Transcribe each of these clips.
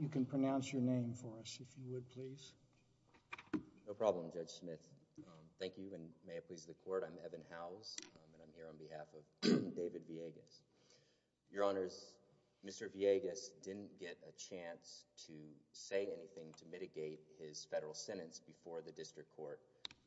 You can pronounce your name for us, if you would, please. No problem, Judge Smith. Thank you, and may it please the Court, I'm Evan Howes, and I'm here on behalf of David Villegas. Your Honors, Mr. Villegas didn't get a chance to say anything to mitigate his federal sentence before the District Court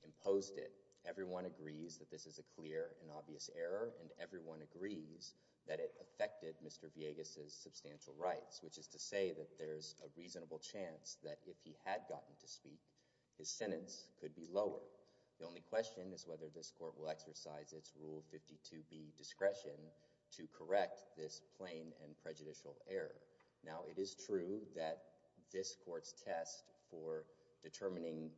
imposed it. Everyone agrees that this is a clear and obvious error, and everyone agrees that it affected Mr. Villegas' substantial rights, which is to say that there's a reasonable chance that if he had gotten to speak, his sentence could be lower. The only question is whether this Court will exercise its Rule 52b, Discretion, to correct this plain and prejudicial error. Now, it is true that this Court's test for determining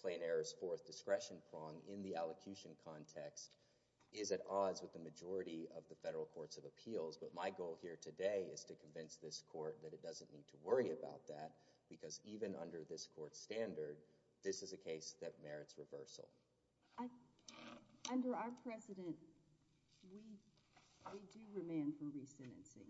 plain error's fourth discretion prong in the allocution context is at odds with the majority of the federal courts of appeals, but my goal here today is to convince this Court that it doesn't need to worry about that, because even under this Court's standard, this is a case that merits reversal. Under our precedent, we do remand for resentencing.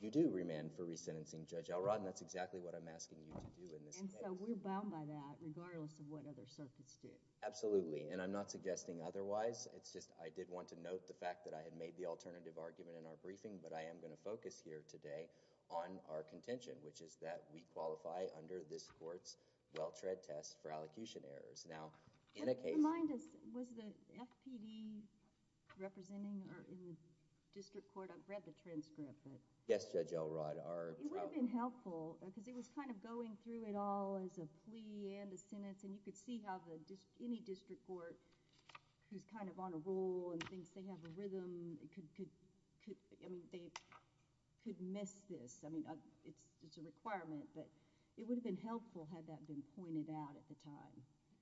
You do remand for resentencing, Judge Elrod, and that's exactly what I'm asking you to do in this case. And so we're bound by that, regardless of what other circuits do. Absolutely, and I'm not suggesting otherwise. It's just I did want to note the fact that I had made the alternative argument in our briefing, but I am going to focus here today on our contention, which is that we qualify under this Court's well-tread test for allocution errors. Now, in a case— Yes, Judge Elrod. It would have been helpful, because it was kind of going through it all as a plea and a sentence, and you could see how any district court who's kind of on a roll and thinks they have a rhythm could miss this. I mean, it's a requirement, but it would have been helpful had that been pointed out at the time.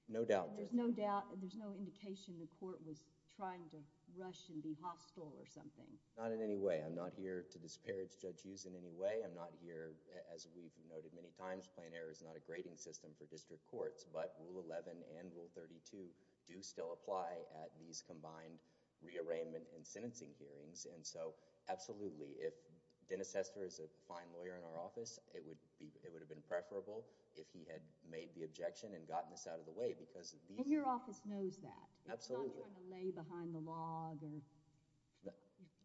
No doubt. There's no doubt. There's no indication the Court was trying to rush and be hostile or something. Not in any way. I'm not here to disparage Judge Hughes in any way. I'm not here, as we've noted many times, plain error is not a grading system for district courts, but Rule 11 and Rule 32 do still apply at these combined rearrangement and sentencing hearings. And so, absolutely, if Dennis Hester is a fine lawyer in our office, it would have been preferable if he had made the objection and gotten this out of the way, because— And your office knows that. Absolutely. I'm not trying to lay behind the log.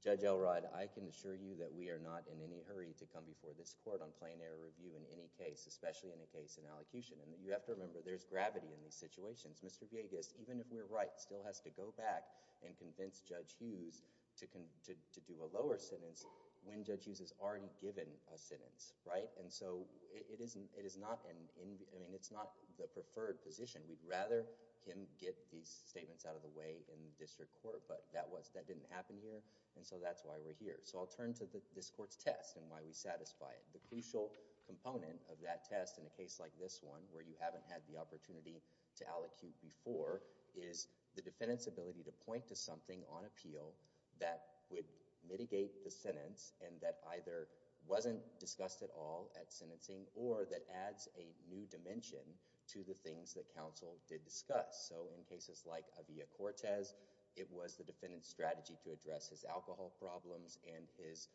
Judge Elrod, I can assure you that we are not in any hurry to come before this Court on plain error review in any case, especially in a case in allocution. And you have to remember, there's gravity in these situations. Mr. Villegas, even if we're right, still has to go back and convince Judge Hughes to do a lower sentence when Judge Hughes has already given a sentence, right? And so, it is not an—I mean, it's not the preferred position. We'd rather him get these statements out of the way in the district court, but that didn't happen here, and so that's why we're here. So I'll turn to this Court's test and why we satisfy it. The crucial component of that test in a case like this one, where you haven't had the opportunity to allocute before, is the defendant's ability to point to something on appeal that would mitigate the sentence and that either wasn't discussed at all at sentencing or that adds a new dimension to the things that counsel did discuss. So in cases like Avia Cortez, it was the defendant's strategy to address his alcohol problems and his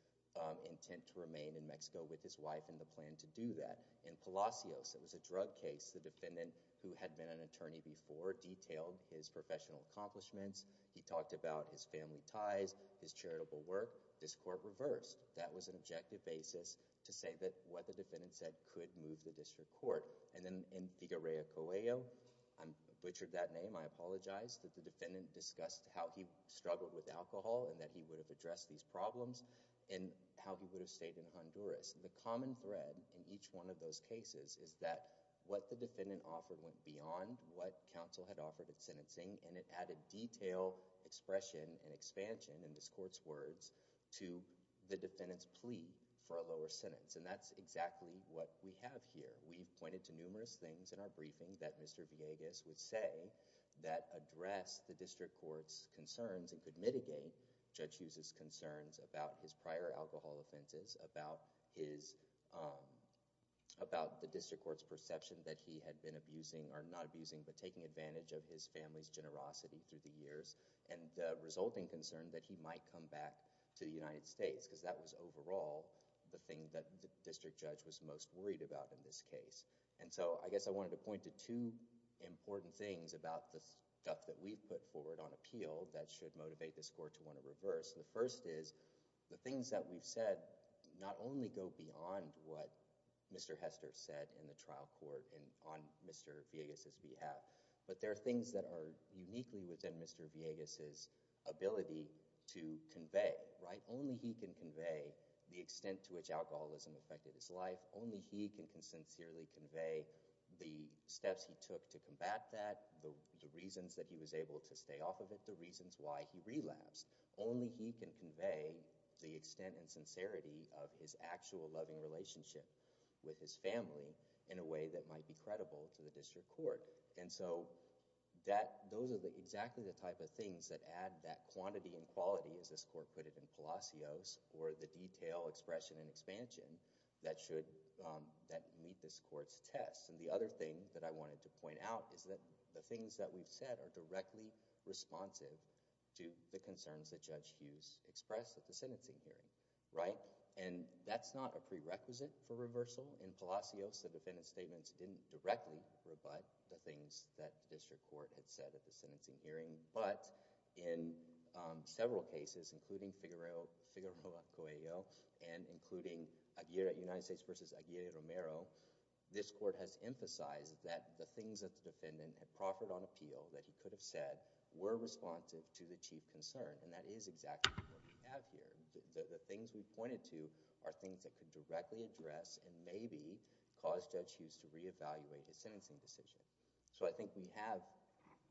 intent to remain in Mexico with his wife and the plan to do that. In Palacios, it was a drug case. The defendant, who had been an attorney before, detailed his professional accomplishments. He talked about his family ties, his charitable work. This Court reversed. That was an objective basis to say that what the defendant said could move the district court. And then in Figuerea Coelho, I butchered that name. I apologize that the defendant discussed how he struggled with alcohol and that he would have addressed these problems and how he would have stayed in Honduras. The common thread in each one of those cases is that what the defendant offered went beyond what counsel had offered at sentencing and it added detail, expression, and expansion in this Court's words to the defendant's plea for a lower sentence. And that's exactly what we have here. We've pointed to numerous things in our briefing that Mr. Villegas would say that addressed the district court's concerns and could mitigate Judge Hughes' concerns about his prior alcohol offenses, about the district court's perception that he had been abusing or not abusing but taking advantage of his family's generosity through the years and resulting concern that he might come back to the United States because that was overall the thing that the district judge was most worried about in this case. And so, I guess I wanted to point to two important things about the stuff that we've put forward on appeal that should motivate this Court to want to reverse. The first is the things that we've said not only go beyond what Mr. Hester said in the trial court and on Mr. Villegas' behalf, but there are things that are uniquely within Mr. Villegas' ability to convey, right? Only he can convey the extent to which alcoholism affected his life. Only he can sincerely convey the steps he took to combat that, the reasons that he was able to stay off of it, the reasons why he relapsed. Only he can convey the extent and sincerity of his actual loving relationship with his family in a way that might be credible to the district court. And so, those are exactly the type of things that add that quantity and quality, as this Court put it in Palacios, or the detail, expression, and expansion that meet this Court's test. And the other thing that I wanted to point out is that the things that we've said are directly responsive to the concerns that Judge Hughes expressed at the hearing, right? And that's not a prerequisite for reversal. In Palacios, the defendant's statements didn't directly rebut the things that the district court had said at the sentencing hearing, but in several cases, including Figueroa Coelho and including United States v. Aguirre Romero, this Court has emphasized that the things that the defendant had proffered on appeal that he could have said were responsive to the chief concern, and that is exactly what we have here. The things we pointed to are things that could directly address and maybe cause Judge Hughes to reevaluate his sentencing decision. So, I think we have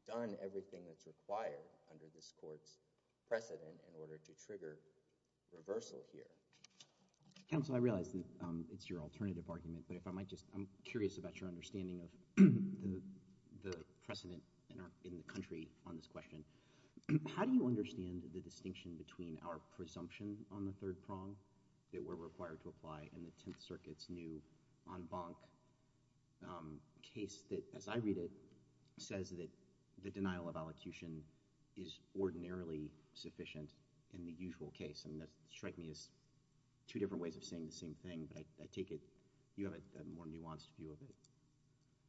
done everything that's required under this Court's precedent in order to trigger reversal here. Counsel, I realize that it's your alternative argument, but if I might just—I'm curious about your understanding of the precedent in the country on this question. How do you our presumption on the third prong that we're required to apply in the Tenth Circuit's new en banc case that, as I read it, says that the denial of allocution is ordinarily sufficient in the usual case? I mean, that strikes me as two different ways of saying the same thing, but I take it you have a more nuanced view of it.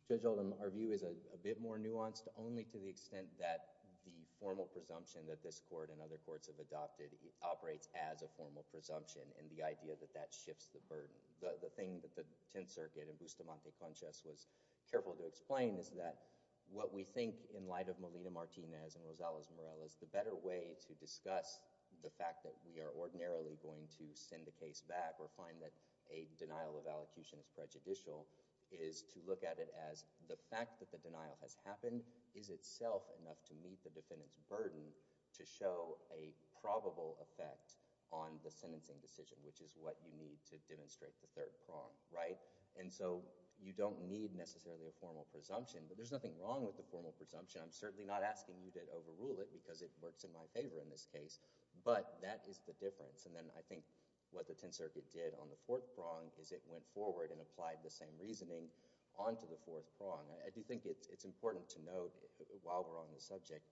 Judge Oldham, our view is a bit more nuanced, only to the extent that the formal presumption that this Court and other courts have adopted operates as a formal presumption, and the idea that that shifts the burden. The thing that the Tenth Circuit and Bustamante Conchas was careful to explain is that what we think, in light of Melina Martinez and Rosales Morel, is the better way to discuss the fact that we are ordinarily going to send the case back or find that a denial of allocution is prejudicial is to look at it as the fact that the denial has happened is itself enough to meet the defendant's burden to show a probable effect on the sentencing decision, which is what you need to demonstrate the third prong, right? And so you don't need necessarily a formal presumption, but there's nothing wrong with the formal presumption. I'm certainly not asking you to overrule it because it works in my favor in this case, but that is the difference. And then I think what the Tenth Circuit did on the fourth prong is it went forward and applied the same reasoning onto the fourth prong. I do think it's important to note while we're on the subject,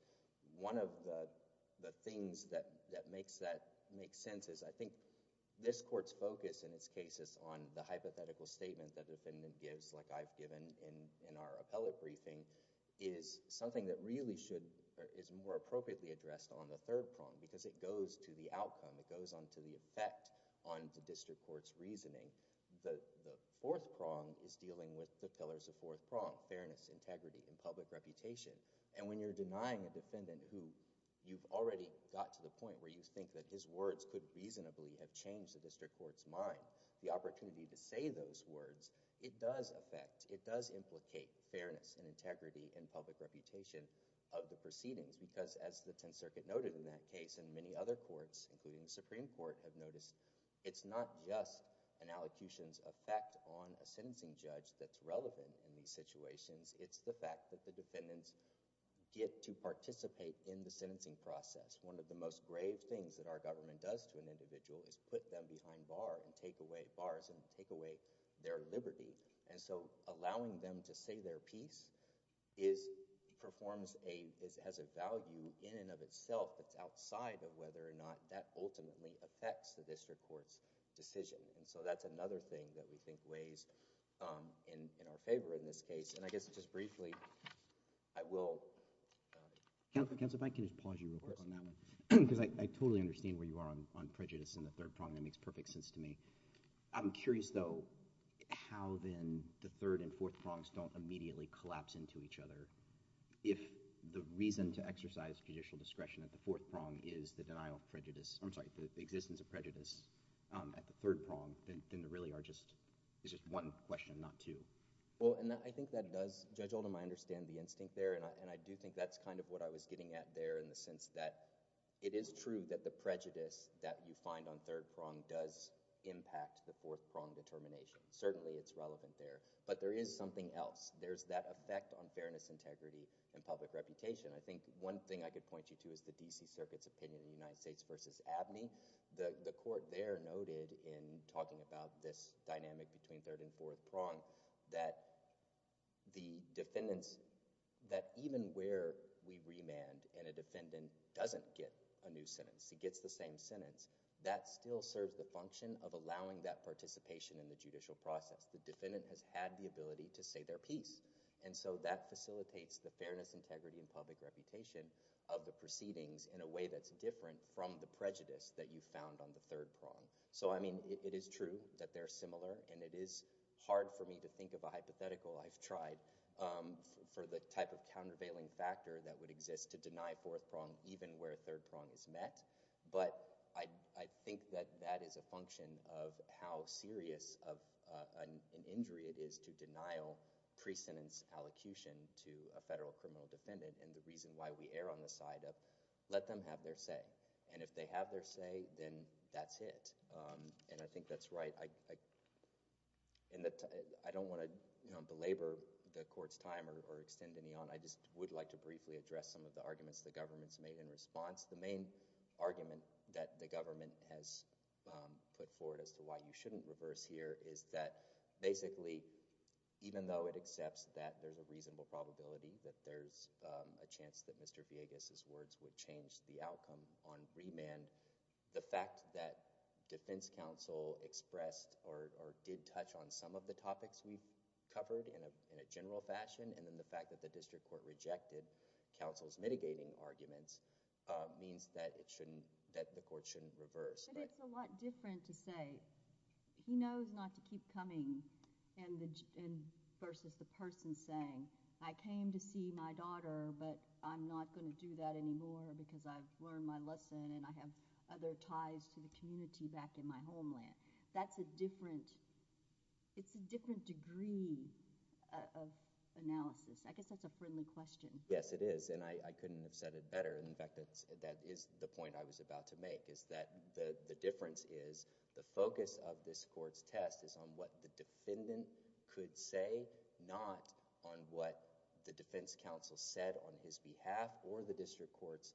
one of the things that makes sense is I think this Court's focus in its cases on the hypothetical statement that the defendant gives, like I've given in our appellate briefing, is something that really should—is more appropriately addressed on the third prong because it goes to the outcome. It goes onto the effect on the district court's reasoning. The fourth prong is dealing with the pillars of fourth prong, fairness, integrity, and public reputation. And when you're denying a defendant who you've already got to the point where you think that his words could reasonably have changed the district court's mind, the opportunity to say those words, it does affect, it does implicate fairness and integrity and public reputation of the proceedings because as the Tenth Circuit noted in that case and many other courts including the Supreme Court have noticed, it's not just an allocution's effect on a sentencing judge that's relevant in these situations, it's the fact that the defendants get to participate in the sentencing process. One of the most grave things that our government does to an individual is put them behind bars and take away their liberty. And so allowing them to say their piece is—performs a—has a value in and of itself that's outside of whether or not that ultimately affects the district court's decision. And so that's another thing that we think weighs in our favor in this case. And I guess just briefly, I will— Counsel, if I can just pause you real quick on that one. Of course. Because I totally understand where you are on prejudice in the third prong. That makes perfect sense to me. I'm curious though how then the third and fourth prongs don't immediately collapse into each other. If the reason to exercise judicial discretion at the fourth prong is the denial of prejudice—I'm sorry, the existence of prejudice at the third prong, then there really are just—it's just one question, not two. Well, and I think that does—Judge Oldham, I understand the instinct there and I do think that's kind of what I was getting at there in the sense that it is true that the prejudice that you find on third prong does impact the fourth prong determination. Certainly it's something else. There's that effect on fairness, integrity, and public reputation. I think one thing I could point you to is the D.C. Circuit's opinion in the United States versus Abney. The court there noted in talking about this dynamic between third and fourth prong that the defendants—that even where we remand and a defendant doesn't get a new sentence, he gets the same sentence, that still serves the function of allowing that participation in the judicial process. The defendant has had the ability to say their piece, and so that facilitates the fairness, integrity, and public reputation of the proceedings in a way that's different from the prejudice that you found on the third prong. So, I mean, it is true that they're similar, and it is hard for me to think of a hypothetical I've tried for the type of countervailing factor that would exist to deny fourth prong even where third prong is met, but I think that that is a function of how serious of an injury it is to denial pre-sentence allocution to a federal criminal defendant and the reason why we err on the side of let them have their say. And if they have their say, then that's it. And I think that's right. I don't want to belabor the court's time or extend any on. I just would like to briefly address some of the arguments the government's made in response. The main argument that the government has put forward as to why you shouldn't reverse here is that basically, even though it accepts that there's a reasonable probability that there's a chance that Mr. Villegas' words would change the outcome on remand, the fact that defense counsel expressed or did touch on some of the topics we've covered in a general fashion and then the fact that the district court rejected counsel's mitigating arguments means that the court shouldn't reverse. But it's a lot different to say, he knows not to keep coming versus the person saying, I came to see my daughter, but I'm not going to do that anymore because I've learned my lesson and I have other ties to the community back in my homeland. That's a different, it's a different degree of analysis. I guess that's a friendly question. Yes, it is. And I couldn't have said it better. In fact, that is the point I was about to make is that the difference is the focus of this court's test is on what the defendant could say, not on what the defense counsel said on his behalf or the district court's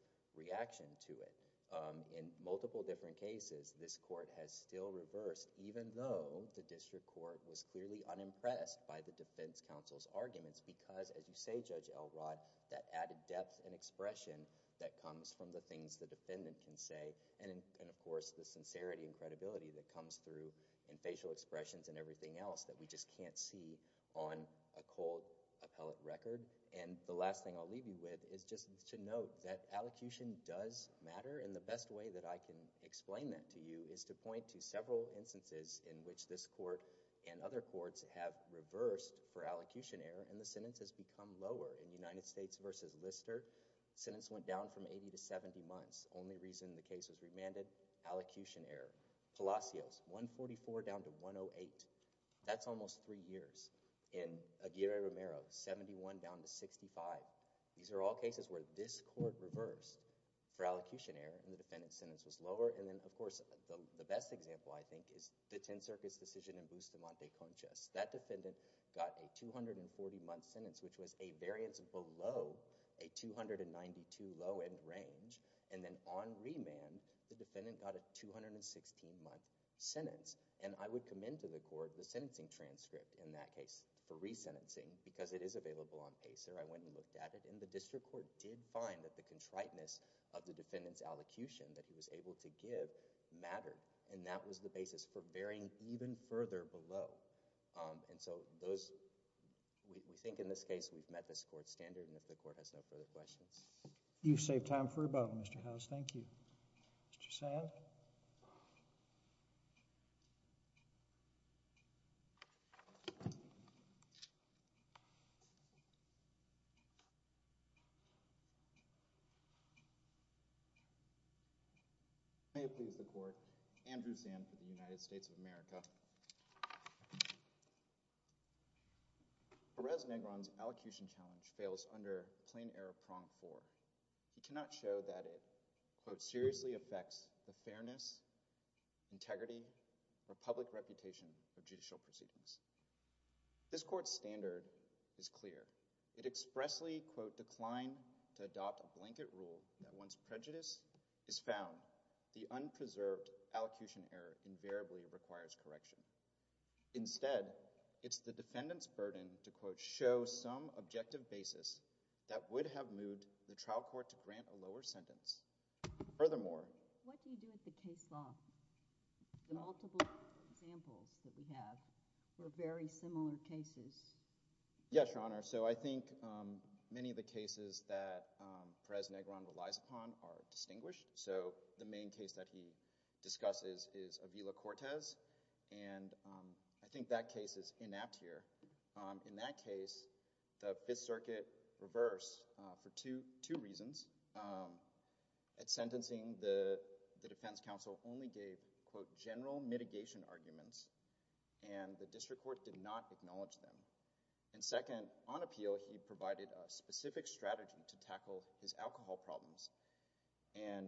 In multiple different cases, this court has still reversed even though the district court was clearly unimpressed by the defense counsel's arguments because, as you say, Judge Elrod, that added depth and expression that comes from the things the defendant can say and of course the sincerity and credibility that comes through in facial expressions and everything else that we just can't see on a cold appellate record. And the last thing I'll leave you with is just to note that allocution does matter, and the best way that I can explain that to you is to point to several instances in which this court and other courts have reversed for allocution error, and the sentence has become lower. In United States v. Lister, the sentence went down from 80 to 70 months. The only reason the case was remanded, allocution error. Palacios, 144 down to 108. That's almost three years. In Aguirre-Romero, 71 down to 65. These are all cases where this court reversed for allocution error, and the defendant's sentence was lower. And then, of course, the best example, I think, is the 10th Circuit's decision in Bustamante-Conchas. That defendant got a 240-month sentence, which was a variance below a 292 low-end range, and then on remand, the defendant got a 216-month sentence. And I would commend to the court the sentencing transcript in that case for resentencing, because it is available on PACER. I went and looked at it, and the district court did find that the contriteness of the defendant's allocution that he was able to give mattered, and that was the basis for varying even further below. And so, those... we think in this case, we've met this court's standard, and if the court has no further questions... You've saved time for rebuttal, Mr. Howes. Thank you. Mr. Sand? May it please the court, Andrew Sand for the United States of America. Perez-Negron's allocution challenge fails under plain error prong 4. He cannot show that it, quote, seriously affects the fairness, integrity, or public reputation of judicial proceedings. This court's standard is clear. It expressly, quote, declined to adopt a blanket rule that once prejudice is found, the unpreserved allocution error invariably requires correction. Instead, it's the defendant's burden to, quote, show some objective basis that would have moved the trial court to grant a lower sentence. Furthermore... What do you do with the case law? The multiple examples that we have were very similar cases. Yes, Your Honor. So, I think many of the cases that Perez-Negron relies upon are distinguished. So, the main case that he discusses is Avila-Cortez, and I think that case is inapt here. In that case, the Fifth Circuit reversed for two reasons. At sentencing, the defense counsel only gave, quote, general mitigation arguments, and the district court did not acknowledge them. And second, on appeal, he provided a specific strategy to tackle his alcohol problems, and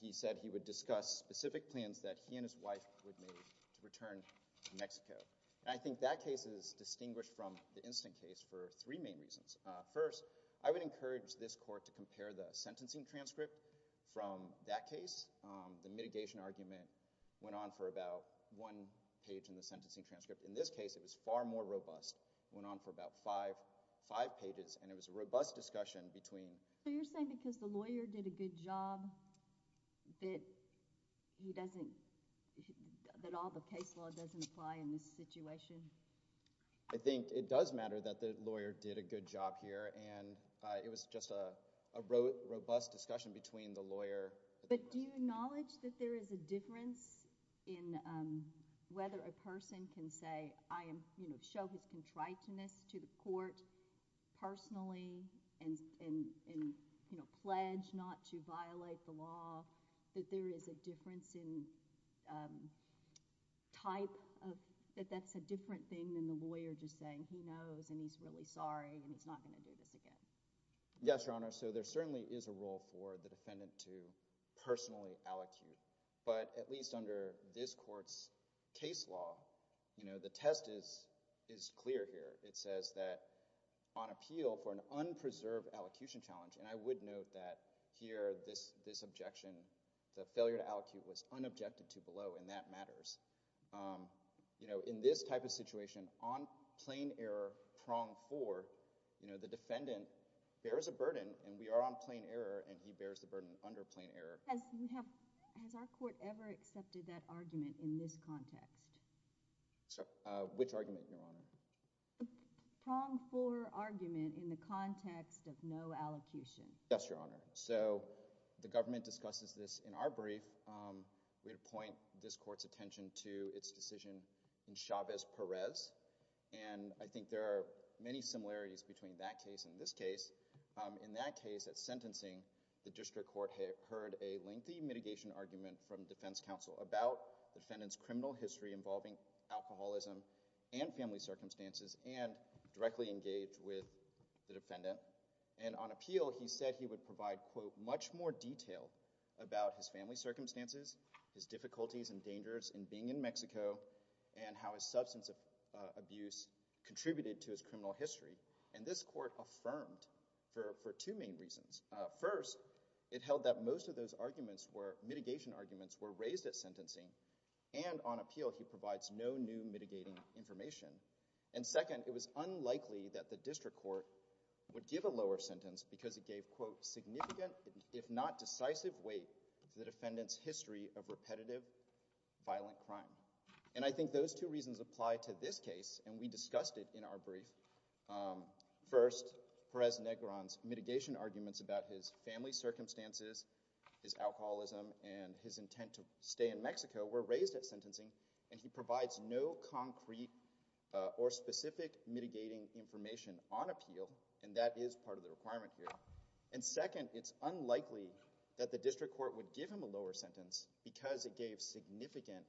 he said he would discuss specific plans that he and his wife would make to return to Mexico. I think that case is distinguished from the instant case for three main reasons. First, I would encourage this court to compare the sentencing transcript from that case. The mitigation argument went on for about one page in the sentencing transcript. In this case, it was far more robust. It went on for about five pages, and it was a robust discussion between— So, you're saying because the lawyer did a good job that he doesn't—that all the case law doesn't apply in this situation? I think it does matter that the lawyer did a good job here, and it was just a robust discussion between the lawyer— But do you acknowledge that there is a difference in whether a person can say, I show his contriteness to the court personally and pledge not to violate the law, that there is a difference in type of—that that's a different thing than the lawyer just saying, he knows and he's really sorry and he's not going to do this again. Yes, Your Honor. So, there certainly is a role for the defendant to personally allocute, but at least under this court's case law, the test is clear here. It says that on appeal for an unpreserved allocution challenge, and I would note that here, this objection, the failure to allocate was unobjected to below, and that matters. In this type of situation, on plain error prong four, the defendant bears a burden, and we are on plain error, and he bears the burden under plain error. Has our court ever accepted that argument in this context? Which argument, Your Honor? Prong four argument in the context of no allocution. Yes, Your Honor. So, the government discusses this in our brief. We point this court's attention to its decision in Chavez-Perez, and I think there are many similarities between that case and this case. In that case, at sentencing, the district court had heard a lengthy mitigation argument from defense counsel about the defendant's criminal history involving alcoholism and family circumstances and directly engaged with the defendant. And on appeal, he said he would provide, quote, much more detail about his family circumstances, his difficulties and dangers in being in Mexico, and how his substance abuse contributed to his criminal history. And this court affirmed for two main reasons. First, it held that most of those mitigation arguments were raised at sentencing, and on appeal he provides no new mitigating information. And second, it was unlikely that the district court would give a lower sentence because it gave, quote, significant if not decisive weight to the defendant's history of repetitive violent crime. And I think those two reasons apply to this case, and we discussed it in our brief. First, Perez-Negron's mitigation arguments about his family circumstances, his alcoholism, and his intent to stay in Mexico were raised at sentencing, and he provides no concrete or specific mitigating information on appeal, and that is part of the requirement here. And second, it's unlikely that the district court would give him a lower sentence because it gave significant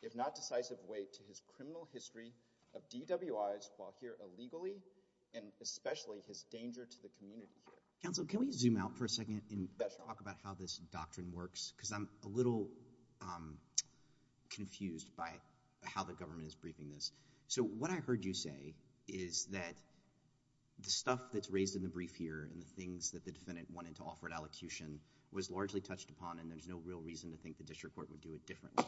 if not decisive weight to his criminal history of DWIs while here illegally and especially his danger to the community here. Counsel, can we zoom out for a second and talk about how this doctrine works? Because I'm a little confused by how the government is briefing this. So what I heard you say is that the stuff that's raised in the brief here and the things that the defendant wanted to offer at allocution was largely touched upon, and there's no real reason to think the district court would do it differently.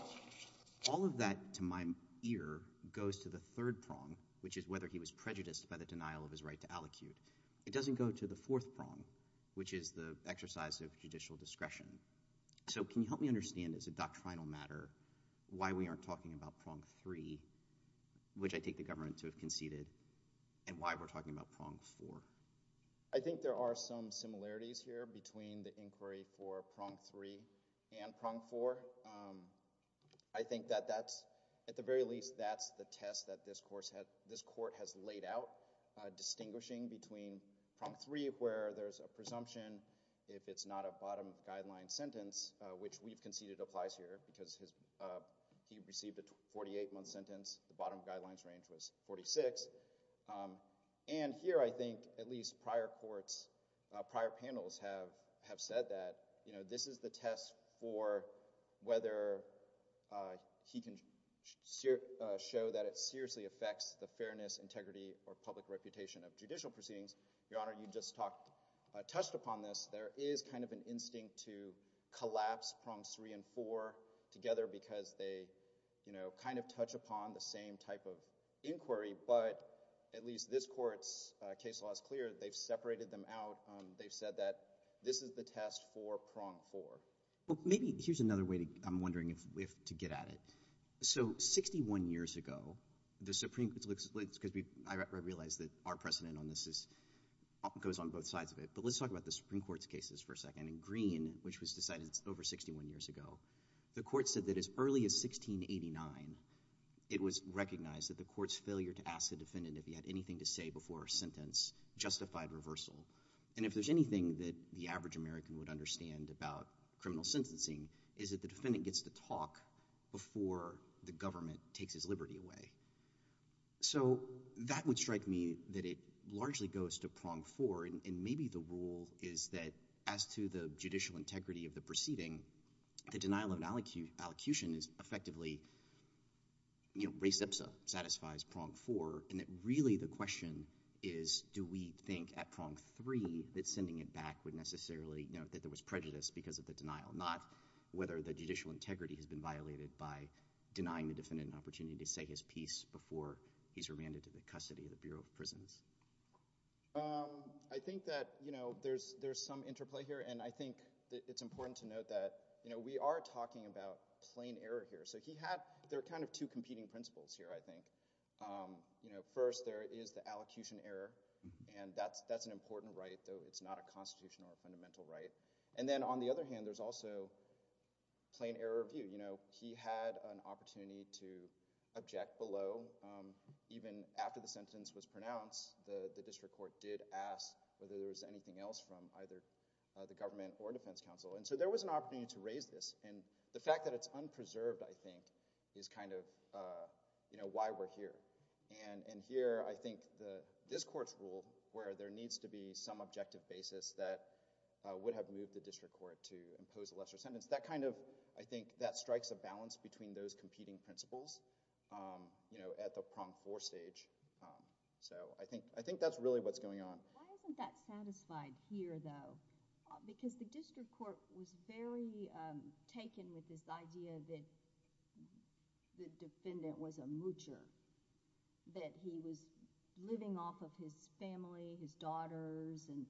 All of that, to my ear, goes to the third prong, which is whether he was prejudiced by the denial of his right to allocute. It doesn't go to the fourth prong, which is the exercise of judicial discretion. So can you help me understand as a doctrinal matter why we aren't talking about prong three, which I take the government to have conceded, and why we're talking about prong four? I think there are some similarities here between the inquiry for prong three and prong four. I think that that's, at the very least, that's the test that this court has laid out, distinguishing between prong three where there's a presumption if it's not a bottom-of-guidelines sentence, which we've conceded applies here because he received a 48-month sentence. The bottom-of-guidelines range was 46. And here I think at least prior courts, prior panels have said that this is the test for whether he can show that it seriously affects the fairness, integrity, or public reputation of judicial proceedings. Your Honor, you just touched upon this. There is kind of an instinct to collapse prongs three and four together because they kind of touch upon the same type of inquiry. But at least this court's case law is clear. They've separated them out. They've said that this is the test for prong four. Well, maybe here's another way, I'm wondering, to get at it. So 61 years ago, the Supreme Court, because I realize that our precedent on this goes on both sides of it, but let's talk about the Supreme Court's cases for a second. In Green, which was decided over 61 years ago, the court said that as early as 1689, it was recognized that the court's failure to ask the defendant if he had anything to say before a sentence justified reversal. And if there's anything that the average American would understand about criminal sentencing is that the defendant gets to talk before the government takes his liberty away. So that would strike me that it largely goes to prong four, and maybe the rule is that as to the judicial integrity of the proceeding, the denial of an allocution is effectively, you know, res ipsa satisfies prong four, and that really the question is do we think at prong three that sending it back would necessarily, you know, that there was prejudice because of the denial, not whether the judicial integrity has been violated by denying the defendant an opportunity to say his piece before he's remanded to the custody of the Bureau of Prisons. I think that, you know, there's some interplay here, and I think it's important to note that, you know, we are talking about plain error here. So he had – there are kind of two competing principles here, I think. You know, first, there is the allocution error, and that's an important right, though it's not a constitutional or fundamental right. And then on the other hand, there's also plain error of view. You know, he had an opportunity to object below even after the sentence was pronounced, the district court did ask whether there was anything else from either the government or defense counsel. And so there was an opportunity to raise this, and the fact that it's unpreserved, I think, is kind of, you know, why we're here. And here I think this court's ruled where there needs to be some objective basis that would have moved the district court to impose a lesser sentence. That kind of, I think, that strikes a balance between those competing principles, you know, at the prong four stage. So I think that's really what's going on. Why isn't that satisfied here, though? Because the district court was very taken with this idea that the defendant was a moocher, that he was living off of his family, his daughters, and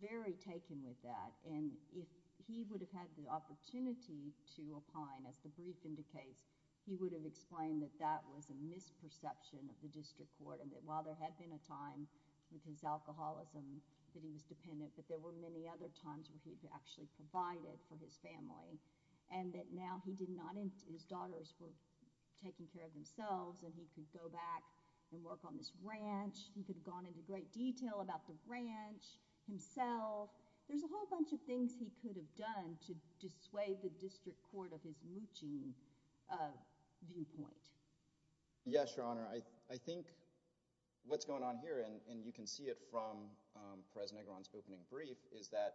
very taken with that. And if he would have had the opportunity to opine, as the brief indicates, he would have explained that that was a misperception of the district court, and that while there had been a time with his alcoholism that he was dependent, but there were many other times where he'd actually provided for his family. And that now he did not—his daughters were taking care of themselves, and he could go back and work on this ranch. He could have gone into great detail about the ranch himself. There's a whole bunch of things he could have done to dissuade the district court of his mooching viewpoint. Yes, Your Honor. I think what's going on here, and you can see it from Perez-Negron's opening brief, is that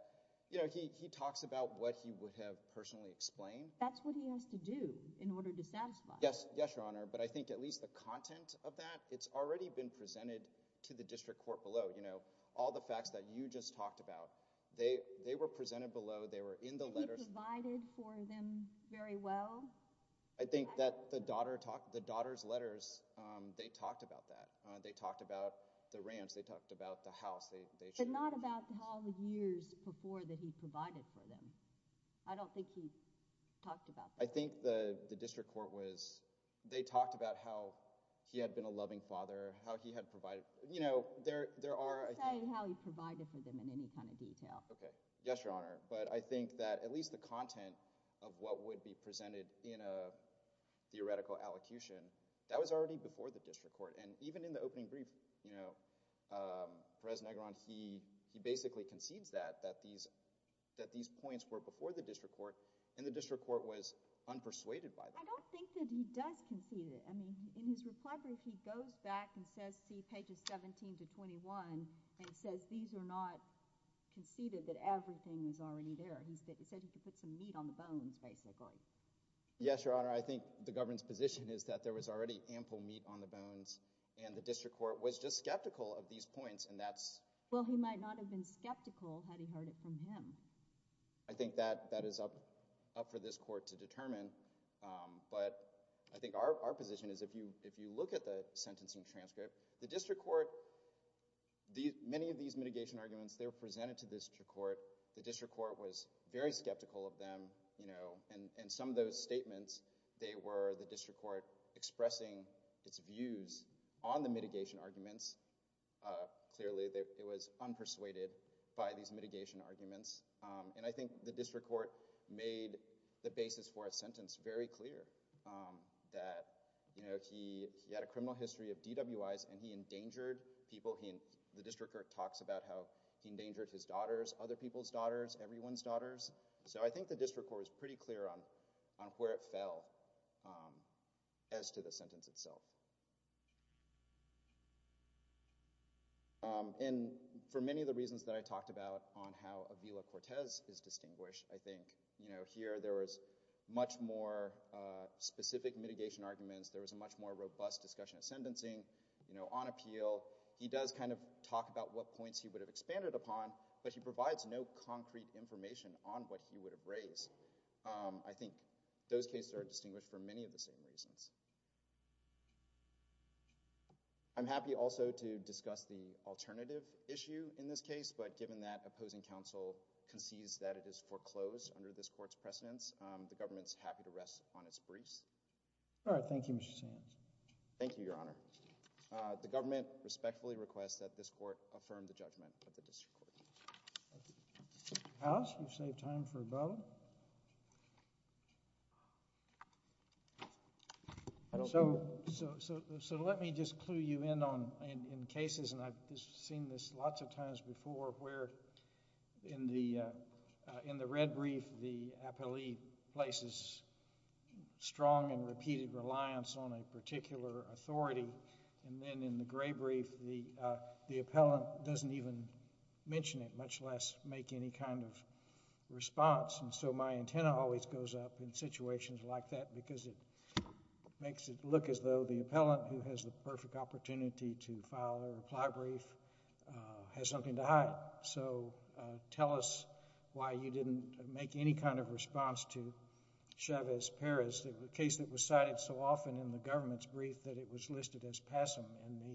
he talks about what he would have personally explained. That's what he has to do in order to satisfy. Yes, Your Honor. But I think at least the content of that, it's already been presented to the district court below. All the facts that you just talked about, they were presented below. They were in the letters. He provided for them very well. I think that the daughter's letters, they talked about that. They talked about the ranch. They talked about the house. But not about how many years before that he provided for them. I don't think he talked about that. I think the district court was—they talked about how he had been a loving father, how he had provided. He didn't say how he provided for them in any kind of detail. Okay. Yes, Your Honor. But I think that at least the content of what would be presented in a theoretical allocution, that was already before the district court. And even in the opening brief, Perez-Negron, he basically concedes that, that these points were before the district court and the district court was unpersuaded by them. I don't think that he does concede it. I mean, in his reply brief, he goes back and says, see pages 17 to 21, and he says these are not conceded, that everything is already there. He said he could put some meat on the bones, basically. Yes, Your Honor. I think the government's position is that there was already ample meat on the bones, and the district court was just skeptical of these points, and that's— Well, he might not have been skeptical had he heard it from him. I think that is up for this court to determine. But I think our position is if you look at the sentencing transcript, the district court—many of these mitigation arguments, they were presented to the district court. The district court was very skeptical of them, and some of those statements, they were the district court expressing its views on the mitigation arguments. Clearly, it was unpersuaded by these mitigation arguments. And I think the district court made the basis for a sentence very clear that he had a criminal history of DWIs, and he endangered people. The district court talks about how he endangered his daughters, other people's daughters, everyone's daughters. So I think the district court was pretty clear on where it fell as to the sentence itself. And for many of the reasons that I talked about on how Avila Cortez is distinguished, I think, you know, here there was much more specific mitigation arguments. There was a much more robust discussion of sentencing, you know, on appeal. He does kind of talk about what points he would have expanded upon, but he provides no concrete information on what he would have raised. I think those cases are distinguished for many of the same reasons. I'm happy also to discuss the alternative issue in this case, but given that opposing counsel concedes that it is foreclosed under this court's precedence, the government's happy to rest on its briefs. All right. Thank you, Mr. Sands. Thank you, Your Honor. The government respectfully requests that this court affirm the judgment of the district court. House, you've saved time for a vote. So let me just clue you in on cases, and I've seen this lots of times before, where in the red brief the appellee places strong and repeated reliance on a particular authority, and then in the gray brief the appellant doesn't even mention it, much less make any kind of response, and so my antenna always goes up in situations like that because it makes it look as though the appellant, who has the perfect opportunity to file or apply a brief, has something to hide. So tell us why you didn't make any kind of response to Chavez-Perez, a case that was cited so often in the government's brief that it was listed as passim in the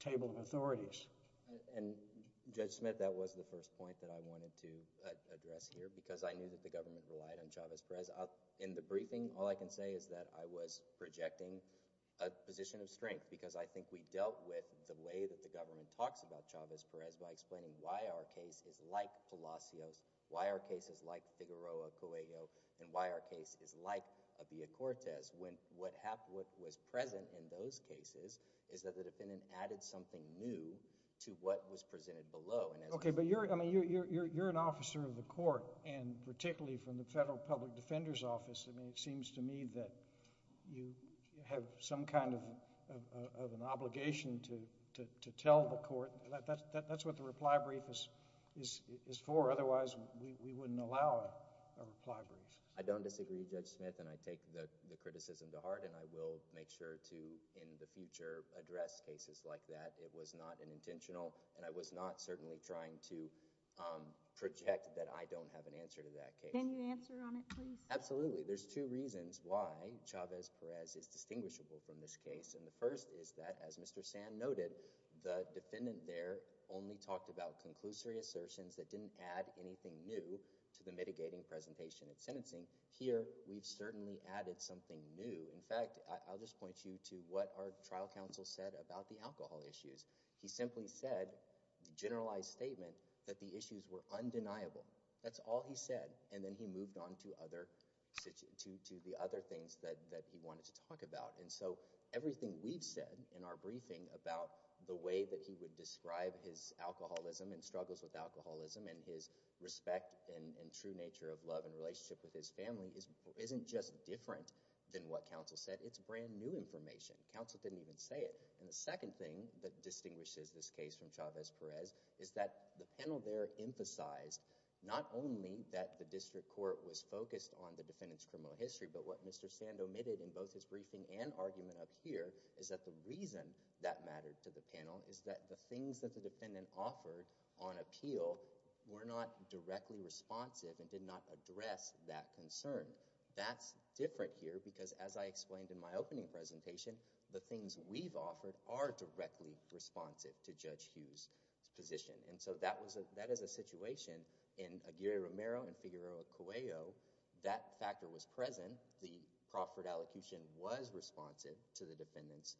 table of authorities. And, Judge Smith, that was the first point that I wanted to address here because I knew that the government relied on Chavez-Perez. In the briefing, all I can say is that I was projecting a position of strength because I think we dealt with the way that the government talks about Chavez-Perez by explaining why our case is like Palacios, why our case is like Figueroa-Coelho, and why our case is like Abia Cortez when what was present in those cases is that the defendant added something new to what was presented below. Okay, but you're an officer of the court, and particularly from the Federal Public Defender's Office. I mean, it seems to me that you have some kind of an obligation to tell the court. That's what the reply brief is for. Otherwise, we wouldn't allow a reply brief. I don't disagree, Judge Smith, and I take the criticism to heart, and I will make sure to, in the future, address cases like that. It was not an intentional, and I was not certainly trying to project that I don't have an answer to that case. Can you answer on it, please? Absolutely. There's two reasons why Chavez-Perez is distinguishable from this case. The first is that, as Mr. Sand noted, the defendant there only talked about conclusory assertions that didn't add anything new to the mitigating presentation and sentencing. Here, we've certainly added something new. In fact, I'll just point you to what our trial counsel said about the alcohol issues. He simply said, a generalized statement, that the issues were undeniable. That's all he said, and then he moved on to the other things that he wanted to talk about. Everything we've said in our briefing about the way that he would describe his alcoholism and struggles with alcoholism and his respect and true nature of love and relationship with his family isn't just different than what counsel said. It's brand new information. Counsel didn't even say it. The second thing that distinguishes this case from Chavez-Perez is that the panel there emphasized not only that the district court was focused on the defendant's criminal history, but what Mr. Sand omitted in both his briefing and argument up here is that the reason that mattered to the panel is that the things that the defendant offered on appeal were not directly responsive and did not address that concern. That's different here because, as I explained in my opening presentation, the things we've offered are directly responsive to Judge Hughes' position. That is a situation in Aguirre-Romero and Figueroa-Cuello. That factor was present. The proffered allocution was responsive to the defendant's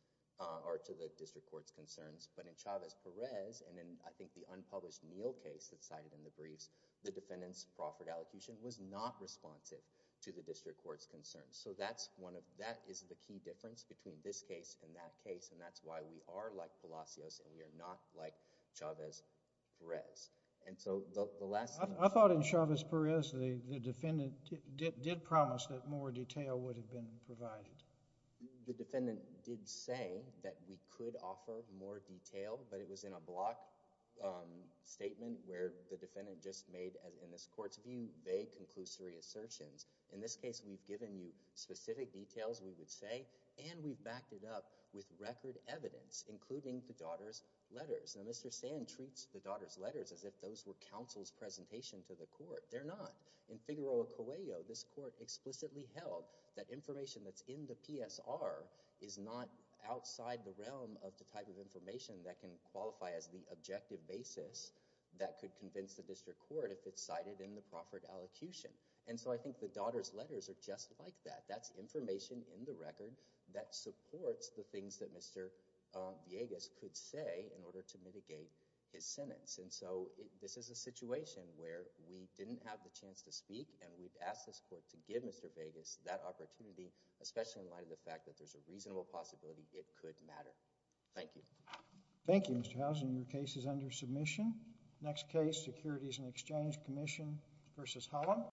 or to the district court's concerns, but in Chavez-Perez and in, I think, the unpublished Neal case that's cited in the briefs, the defendant's proffered allocution was not responsive to the district court's concerns. That is the key difference between this case and that case, and that's why we are like Palacios and we are not like Chavez-Perez. And so the last thing— I thought in Chavez-Perez the defendant did promise that more detail would have been provided. The defendant did say that we could offer more detail, but it was in a block statement where the defendant just made, in this court's view, vague, conclusory assertions. In this case, we've given you specific details, we would say, and we've backed it up with record evidence, including the daughter's letters. Now, Mr. Sand treats the daughter's letters as if those were counsel's presentation to the court. They're not. In Figueroa-Cuello, this court explicitly held that information that's in the PSR is not outside the realm of the type of information that can qualify as the objective basis that could convince the district court if it's cited in the proffered allocution. And so I think the daughter's letters are just like that. That's information in the record that supports the things that Mr. Villegas could say in order to mitigate his sentence. And so this is a situation where we didn't have the chance to speak and we've asked this court to give Mr. Villegas that opportunity, especially in light of the fact that there's a reasonable possibility it could matter. Thank you. Thank you, Mr. Housen. Your case is under submission. Next case, Securities and Exchange Commission v. Holland.